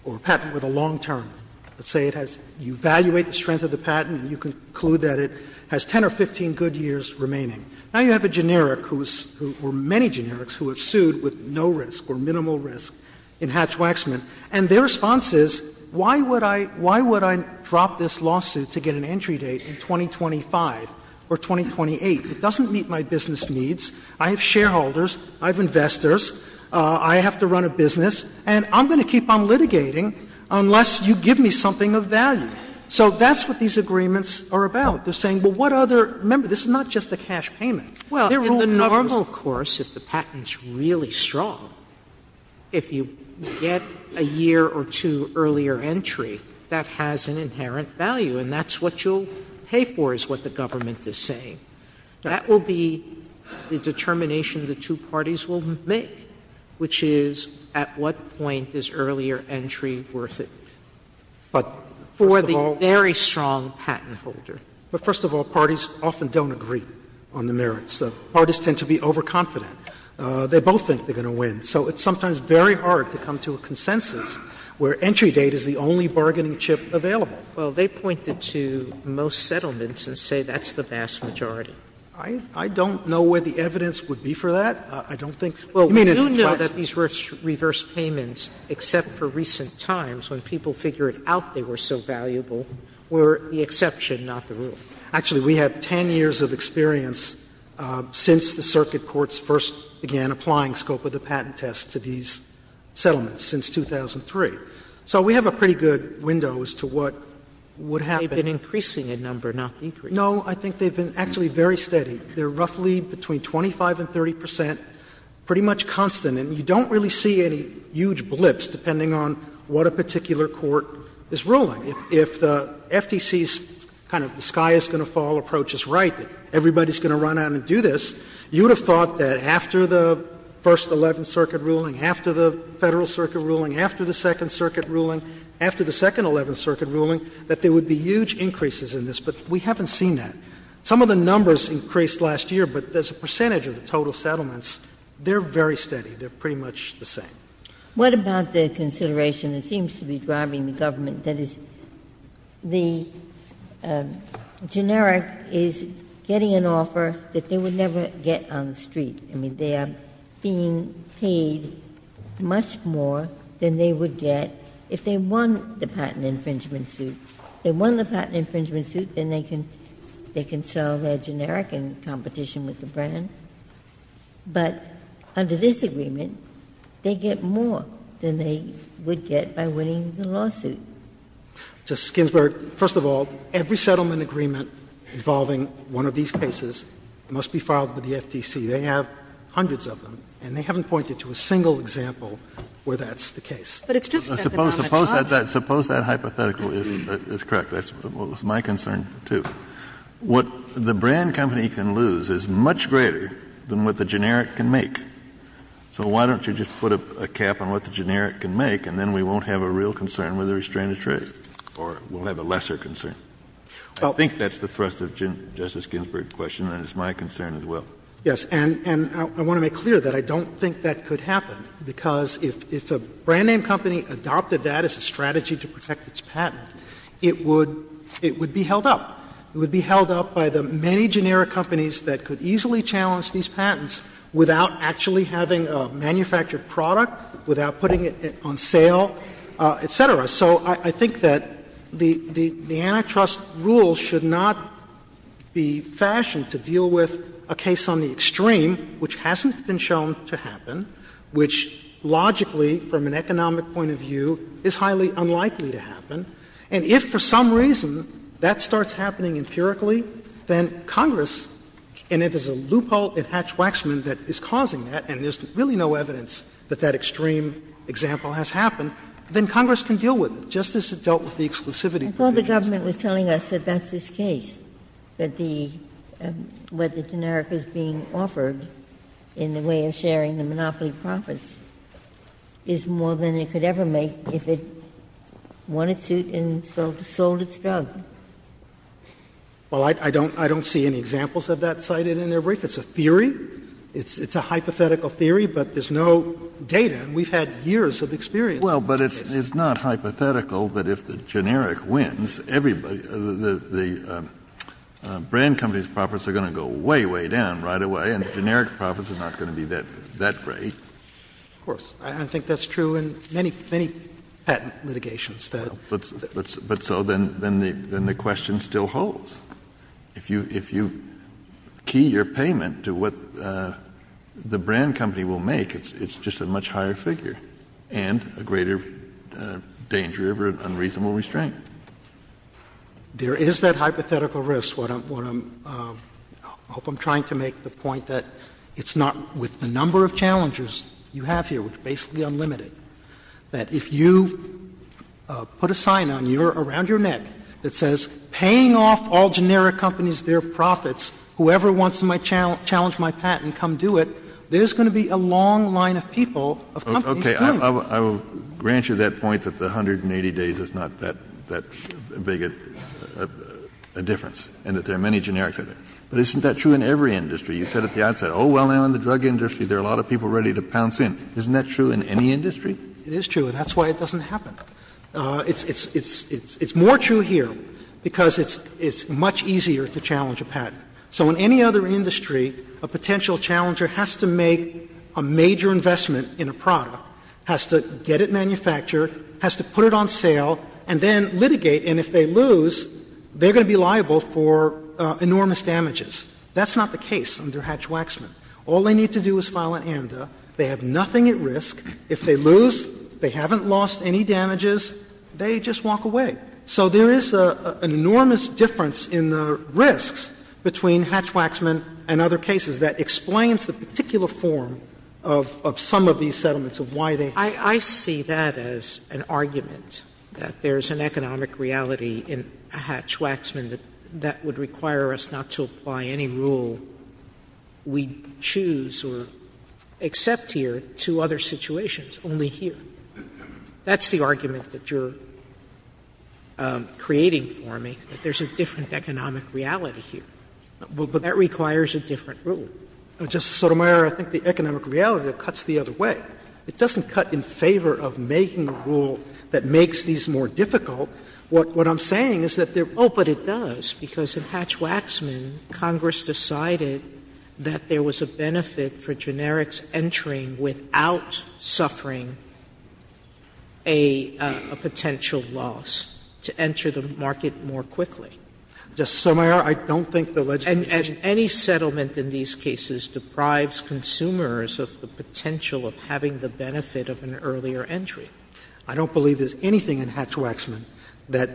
or a patent with a long term. Let's say it has — you evaluate the strength of the patent and you conclude that it has 10 or 15 good years remaining. Now you have a generic who is — or many generics who have sued with no risk or minimal risk in Hatch-Waxman, and their response is, why would I — why would I drop this lawsuit to get an entry date in 2025 or 2028? It doesn't meet my business needs. I have shareholders, I have investors, I have to run a business, and I'm going to keep on litigating unless you give me something of value. So that's what these agreements are about. They're saying, well, what other — remember, this is not just a cash payment. They're rule covers. Well, of course, if the patent's really strong, if you get a year or two earlier entry, that has an inherent value, and that's what you'll pay for, is what the government is saying. That will be the determination the two parties will make, which is at what point is earlier entry worth it for the very strong patent holder. But, first of all — but, first of all, parties often don't agree on the merits. Parties tend to be overconfident. They both think they're going to win. So it's sometimes very hard to come to a consensus where entry date is the only bargaining chip available. Sotomayor Well, they pointed to most settlements and say that's the vast majority. I don't know where the evidence would be for that. I don't think — Sotomayor Well, you know that these reverse payments, except for recent times when people figured out they were so valuable, were the exception, not the rule. Actually, we have 10 years of experience since the circuit courts first began applying scope of the patent test to these settlements, since 2003. So we have a pretty good window as to what would happen. Sotomayor They've been increasing in number, not decreasing. Sotomayor No, I think they've been actually very steady. They're roughly between 25 and 30 percent, pretty much constant. And you don't really see any huge blips, depending on what a particular court is ruling. If the FTC's kind of the sky is going to fall approach is right, everybody's going to run out and do this, you would have thought that after the First Eleventh Circuit ruling, after the Federal Circuit ruling, after the Second Circuit ruling, after the Second Eleventh Circuit ruling, that there would be huge increases in this, but we haven't seen that. Some of the numbers increased last year, but as a percentage of the total settlements, they're very steady. They're pretty much the same. Ginsburg What about the consideration that seems to be driving the government, that is, the generic is getting an offer that they would never get on the street? I mean, they are being paid much more than they would get if they won the patent infringement suit. If they won the patent infringement suit, then they can sell their generic in competition with the brand. But under this agreement, they get more than they would get by winning the lawsuit. Kennedy Just, Ginsburg, first of all, every settlement agreement involving one of these cases must be filed with the FTC. They have hundreds of them, and they haven't pointed to a single example where that's the case. Sotomayor But it's just that the knowledge is large. Kennedy Suppose that hypothetical is correct. That's my concern, too. What the brand company can lose is much greater than what the generic can make. So why don't you just put a cap on what the generic can make, and then we won't have a real concern with the restrained trade, or we'll have a lesser concern. I think that's the thrust of Justice Ginsburg's question, and it's my concern as well. Sotomayor Yes. And I want to make clear that I don't think that could happen, because if a brand name company adopted that as a strategy to protect its patent, it would be held up. It would be held up by the many generic companies that could easily challenge these patents without actually having a manufactured product, without putting it on sale, et cetera. So I think that the antitrust rules should not be fashioned to deal with a case on the extreme, which hasn't been shown to happen, which logically, from an economic point of view, is highly unlikely to happen. And if for some reason that starts happening empirically, then Congress, and if there's a loophole in Hatch-Waxman that is causing that, and there's really no evidence that that extreme example has happened, then Congress can deal with it, just as it dealt with the exclusivity provisions. Ginsburg I thought the government was telling us that that's this case, that the — what the generic is being offered in the way of sharing the monopoly profits is more than it could ever make if it won its suit and sold its drug. Kennedy Well, I don't see any examples of that cited in their brief. It's a theory. It's a hypothetical theory, but there's no data. We've had years of experience. Kennedy Well, but it's not hypothetical that if the generic wins, the brand company's profits are going to go way, way down right away, and the generic profits are not going to be that great. Of course. I think that's true in many, many patent litigations. Kennedy But so then the question still holds. If you key your payment to what the brand company will make, it's just a much higher figure and a greater danger of unreasonable restraint. There is that hypothetical risk, what I'm — I hope I'm trying to make the point that it's not — with the number of challengers you have here, which is basically unlimited, that if you put a sign on your — around your neck that says, paying off all generic companies their profits, whoever wants to challenge my patent, come do it, there's going to be a long line of people, of companies, paying. Kennedy Okay. I will grant you that point that the 180 days is not that big a difference, and that there are many generics out there. But isn't that true in every industry? You said at the outset, oh, well, now in the drug industry there are a lot of people ready to pounce in. Isn't that true in any industry? Sotomayor It is true, and that's why it doesn't happen. It's — it's more true here because it's much easier to challenge a patent. So in any other industry, a potential challenger has to make a major investment in a product, has to get it manufactured, has to put it on sale, and then litigate. And if they lose, they're going to be liable for enormous damages. That's not the case. That's not the case under Hatch-Waxman. All they need to do is file an AMDA, they have nothing at risk. If they lose, they haven't lost any damages, they just walk away. So there is an enormous difference in the risks between Hatch-Waxman and other cases that explains the particular form of some of these settlements, of why they happen. Sotomayor I see that as an argument, that there is an economic reality in Hatch-Waxman that would require us not to apply any rule we choose or accept here to other situations, only here. That's the argument that you're creating for me, that there's a different economic reality here. But that requires a different rule. Justice Sotomayor, I think the economic reality cuts the other way. It doesn't cut in favor of making a rule that makes these more difficult. What I'm saying is that there — Oh, but it does, because in Hatch-Waxman, Congress decided that there was a benefit for generics entering without suffering a potential loss, to enter the market more quickly. Justice Sotomayor, I don't think the legislation — And any settlement in these cases deprives consumers of the potential of having the benefit of an earlier entry. I don't believe there's anything in Hatch-Waxman that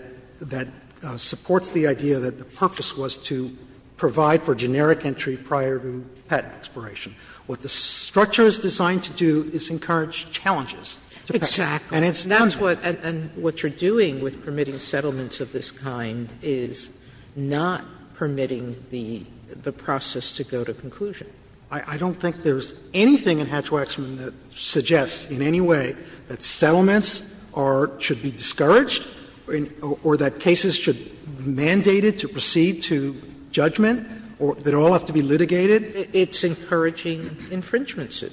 supports the idea that the purpose was to provide for generic entry prior to patent expiration. What the structure is designed to do is encourage challenges. Exactly. And it's not a— And that's what you're doing with permitting settlements of this kind is not permitting the process to go to conclusion. I don't think there's anything in Hatch-Waxman that suggests in any way that settlements are — should be discouraged or that cases should be mandated to proceed to judgment or that all have to be litigated. It's encouraging infringements.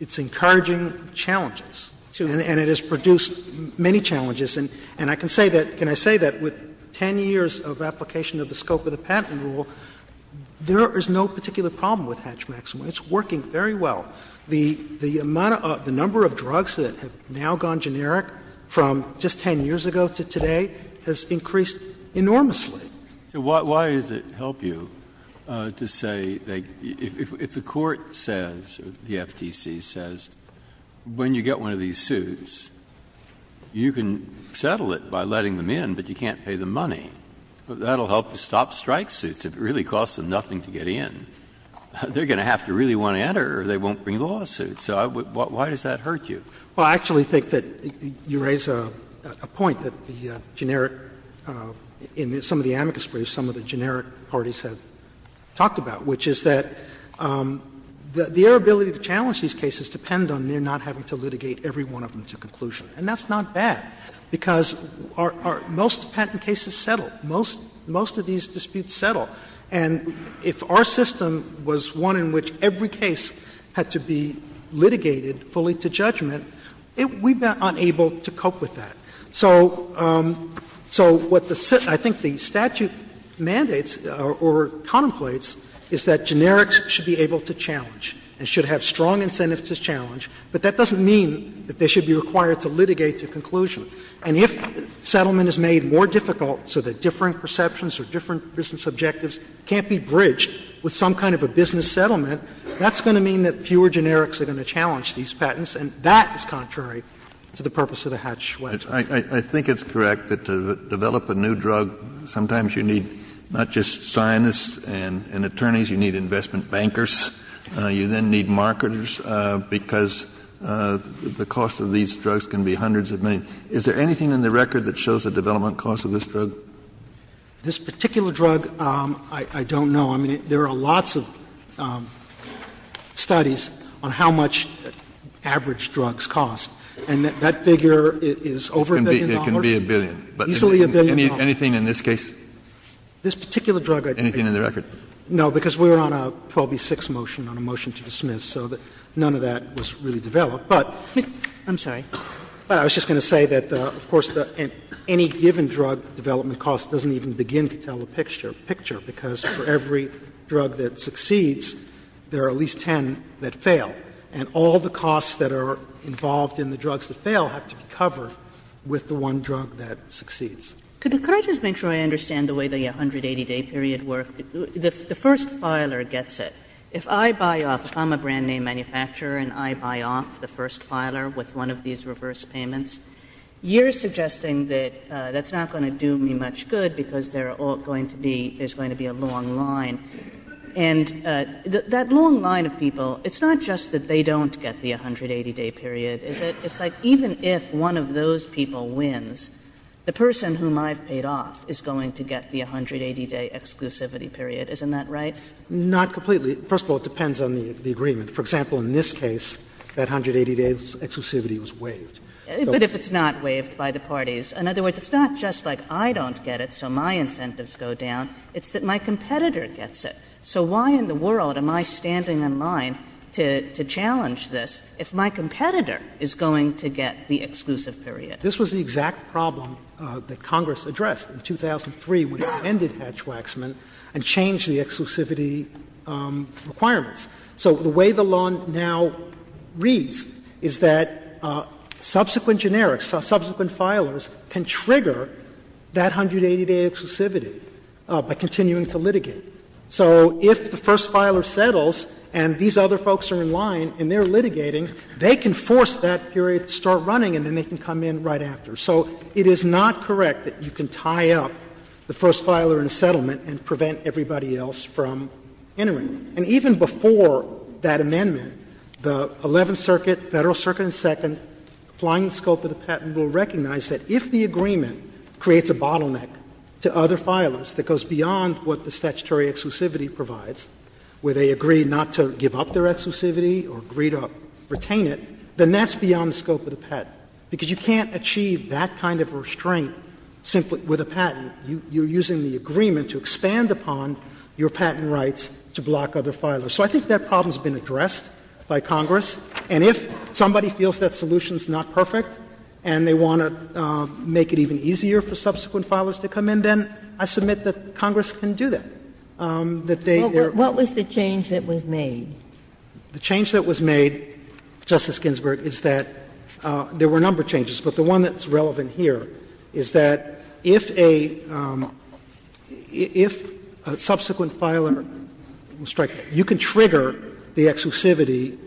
It's encouraging challenges. And it has produced many challenges. And I can say that — can I say that with 10 years of application of the scope of the Hatch-Waxman, it's working very well. The amount of — the number of drugs that have now gone generic from just 10 years ago to today has increased enormously. So why does it help you to say that if the court says, or the FTC says, when you get one of these suits, you can settle it by letting them in, but you can't pay the money. That will help to stop strike suits if it really costs them nothing to get in. They're going to have to really want to enter or they won't bring the lawsuit. So why does that hurt you? Well, I actually think that you raise a point that the generic — in some of the amicus briefs, some of the generic parties have talked about, which is that their ability to challenge these cases depend on their not having to litigate every one of them to conclusion. And that's not bad, because most patent cases settle. Most of these disputes settle. And if our system was one in which every case had to be litigated fully to judgment, we've been unable to cope with that. So what the — I think the statute mandates or contemplates is that generics should be able to challenge and should have strong incentives to challenge, but that doesn't mean that they should be required to litigate to conclusion. And if settlement is made more difficult so that different perceptions or different business objectives can't be bridged with some kind of a business settlement, that's going to mean that fewer generics are going to challenge these patents. And that is contrary to the purpose of the Hatch-Schweppes. Kennedy. I think it's correct that to develop a new drug, sometimes you need not just scientists and attorneys, you need investment bankers. You then need marketers, because the cost of these drugs can be hundreds of millions. Is there anything in the record that shows the development cost of this drug? This particular drug, I don't know. I mean, there are lots of studies on how much average drugs cost. And that figure is over a billion dollars. It can be a billion. Easily a billion dollars. Anything in this case? This particular drug I don't know. Anything in the record? No, because we were on a 12B6 motion, on a motion to dismiss, so none of that was really developed. But I'm sorry. I was just going to say that, of course, any given drug development cost doesn't even begin to tell the picture, because for every drug that succeeds, there are at least ten that fail. And all the costs that are involved in the drugs that fail have to be covered with the one drug that succeeds. Could I just make sure I understand the way the 180-day period works? The first filer gets it. If I buy off the one brand name manufacturer and I buy off the first filer with one of these reverse payments, you're suggesting that that's not going to do me much good, because there are all going to be, there's going to be a long line. And that long line of people, it's not just that they don't get the 180-day period, is it? It's like even if one of those people wins, the person whom I've paid off is going to get the 180-day exclusivity period, isn't that right? Not completely. First of all, it depends on the agreement. For example, in this case, that 180-day exclusivity was waived. So it's not just like I don't get it, so my incentives go down, it's that my competitor gets it. So why in the world am I standing in line to challenge this if my competitor is going to get the exclusive period? This was the exact problem that Congress addressed in 2003 when it amended Hatch-Waxman and changed the exclusivity requirements. So the way the law now reads is that subsequent generics, subsequent filers can trigger that 180-day exclusivity by continuing to litigate. So if the first filer settles and these other folks are in line and they're litigating, they can force that period to start running and then they can come in right after. So it is not correct that you can tie up the first filer in a settlement and prevent everybody else from entering. And even before that amendment, the Eleventh Circuit, Federal Circuit and Second, applying the scope of the patent, will recognize that if the agreement creates a bottleneck to other filers that goes beyond what the statutory exclusivity provides, where they agree not to give up their exclusivity or agree to retain it, then that's beyond the scope of the patent, because you can't achieve that kind of restraint simply with a patent. You're using the agreement to expand upon your patent rights to block other filers. So I think that problem has been addressed by Congress. And if somebody feels that solution is not perfect and they want to make it even easier for subsequent filers to come in, then I submit that Congress can do that. That they are going to do that. What was the change that was made? The change that was made, Justice Ginsburg, is that there were a number of changes, but the one that's relevant here is that if a subsequent filer strikes, you can trigger the exclusivity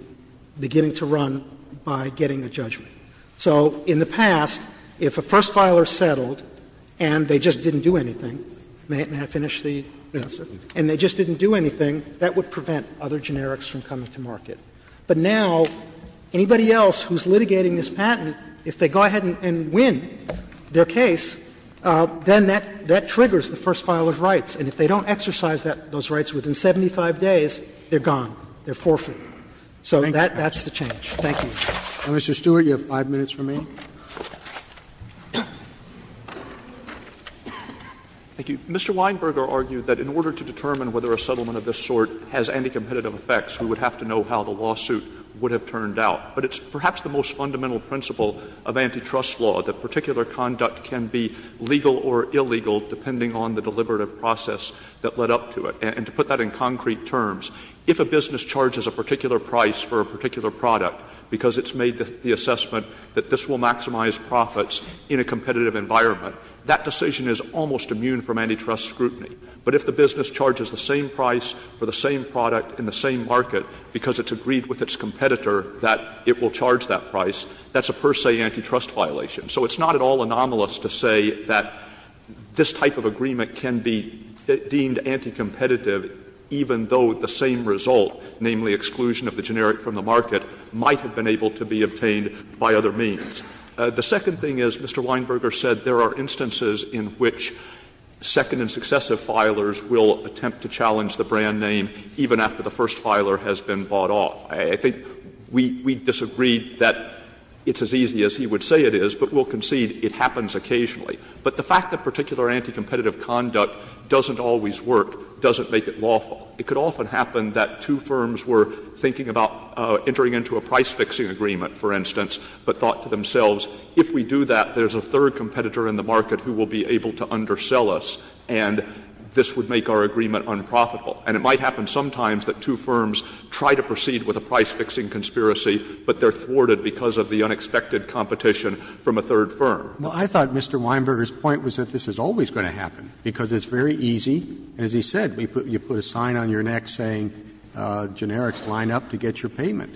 beginning to run by getting a judgment. So in the past, if a first filer settled and they just didn't do anything, may I finish the answer? And they just didn't do anything, that would prevent other generics from coming to market. But now, anybody else who's litigating this patent, if they go ahead and win their case, then that triggers the first filer's rights. And if they don't exercise those rights within 75 days, they're gone, they're forfeited. So that's the change. Thank you. Roberts. And Mr. Stewart, you have 5 minutes remaining. Thank you. Mr. Weinberger argued that in order to determine whether a settlement of this sort has anti-competitive effects, we would have to know how the lawsuit would have turned out. But it's perhaps the most fundamental principle of antitrust law, that particular conduct can be legal or illegal depending on the deliberative process that led up to it. And to put that in concrete terms, if a business charges a particular price for a particular product because it's made the assessment that this will maximize profits in a competitive environment, that decision is almost immune from antitrust scrutiny. But if the business charges the same price for the same product in the same market because it's agreed with its competitor that it will charge that price, that's a per se antitrust violation. So it's not at all anomalous to say that this type of agreement can be deemed anti-competitive even though the same result, namely exclusion of the generic from the market, might have been able to be obtained by other means. The second thing is, Mr. Weinberger said there are instances in which second and successive filers will attempt to challenge the brand name even after the first filer has been bought off. I think we disagreed that it's as easy as he would say it is, but we'll concede it happens occasionally. But the fact that particular anti-competitive conduct doesn't always work doesn't make it lawful. It could often happen that two firms were thinking about entering into a price-fixing agreement, for instance, but thought to themselves, if we do that, there's a third firm, this would make our agreement unprofitable. And it might happen sometimes that two firms try to proceed with a price-fixing conspiracy, but they're thwarted because of the unexpected competition from a third firm. Roberts. Well, I thought Mr. Weinberger's point was that this is always going to happen, because it's very easy. As he said, you put a sign on your neck saying, generics line up to get your payment.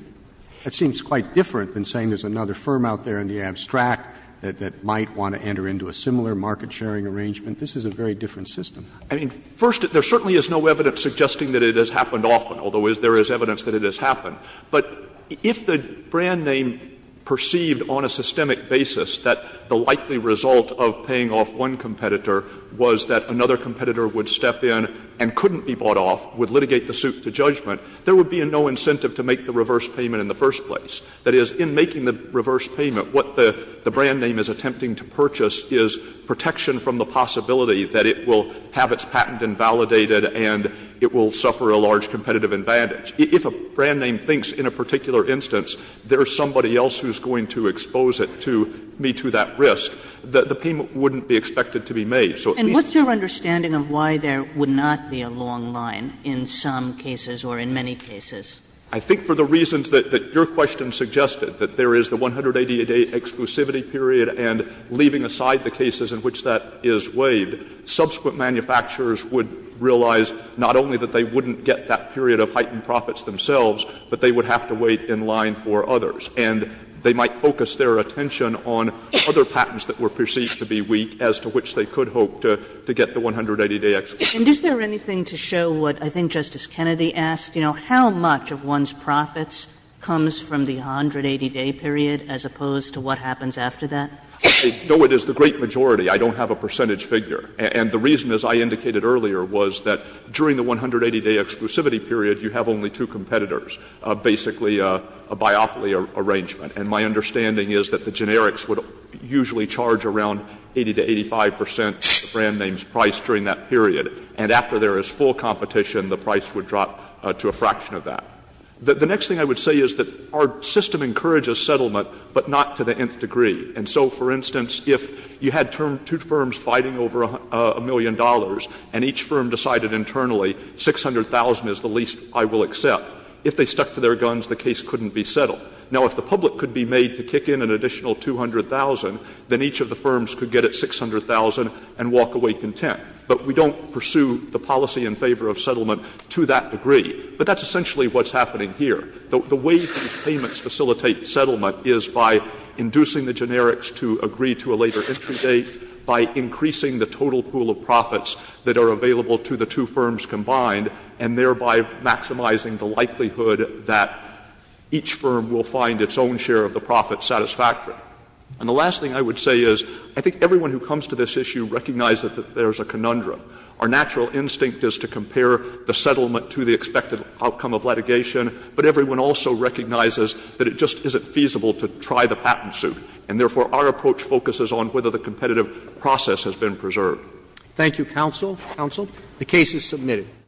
That seems quite different than saying there's another firm out there in the abstract that might want to enter into a similar market-sharing arrangement. This is a very different system. I mean, first, there certainly is no evidence suggesting that it has happened often, although there is evidence that it has happened. But if the brand name perceived on a systemic basis that the likely result of paying off one competitor was that another competitor would step in and couldn't be bought off, would litigate the suit to judgment, there would be no incentive to make the reverse payment in the first place. That is, in making the reverse payment, what the brand name is attempting to purchase is protection from the possibility that it will have its patent invalidated and it will suffer a large competitive advantage. If a brand name thinks in a particular instance there's somebody else who's going to expose it to me to that risk, the payment wouldn't be expected to be made. So at least to the extent that it's not going to be made, it's not going to be made. And what's your understanding of why there would not be a long line in some cases or in many cases? I think for the reasons that your question suggested, that there is the 180-day exclusivity period, and leaving aside the cases in which that is waived, subsequent manufacturers would realize not only that they wouldn't get that period of heightened profits themselves, but they would have to wait in line for others, and they might focus their attention on other patents that were perceived to be weak as to which they could hope to get the 180-day exit. And is there anything to show what I think Justice Kennedy asked, you know, how much of one's profits comes from the 180-day period as opposed to what happens after that? No, it is the great majority. I don't have a percentage figure. And the reason, as I indicated earlier, was that during the 180-day exclusivity period, you have only two competitors, basically a biopoly arrangement. And my understanding is that the generics would usually charge around 80 to 85 percent of the brand name's price during that period, and after there is full competition, the price would drop to a fraction of that. The next thing I would say is that our system encourages settlement, but not to the nth degree. And so, for instance, if you had two firms fighting over a million dollars and each firm decided internally, 600,000 is the least I will accept, if they stuck to their guns, the case couldn't be settled. Now, if the public could be made to kick in an additional 200,000, then each of the firms could get at 600,000 and walk away content. But we don't pursue the policy in favor of settlement to that degree. But that's essentially what's happening here. The way these payments facilitate settlement is by inducing the generics to agree to a later entry date, by increasing the total pool of profits that are available to the two firms combined, and thereby maximizing the likelihood that each firm will find its own share of the profit satisfactory. And the last thing I would say is I think everyone who comes to this issue recognizes that there is a conundrum. Our natural instinct is to compare the settlement to the expected outcome of litigation, but everyone also recognizes that it just isn't feasible to try the patent suit. And therefore, our approach focuses on whether the competitive process has been preserved. Roberts. Thank you, counsel. Counsel. The case is submitted.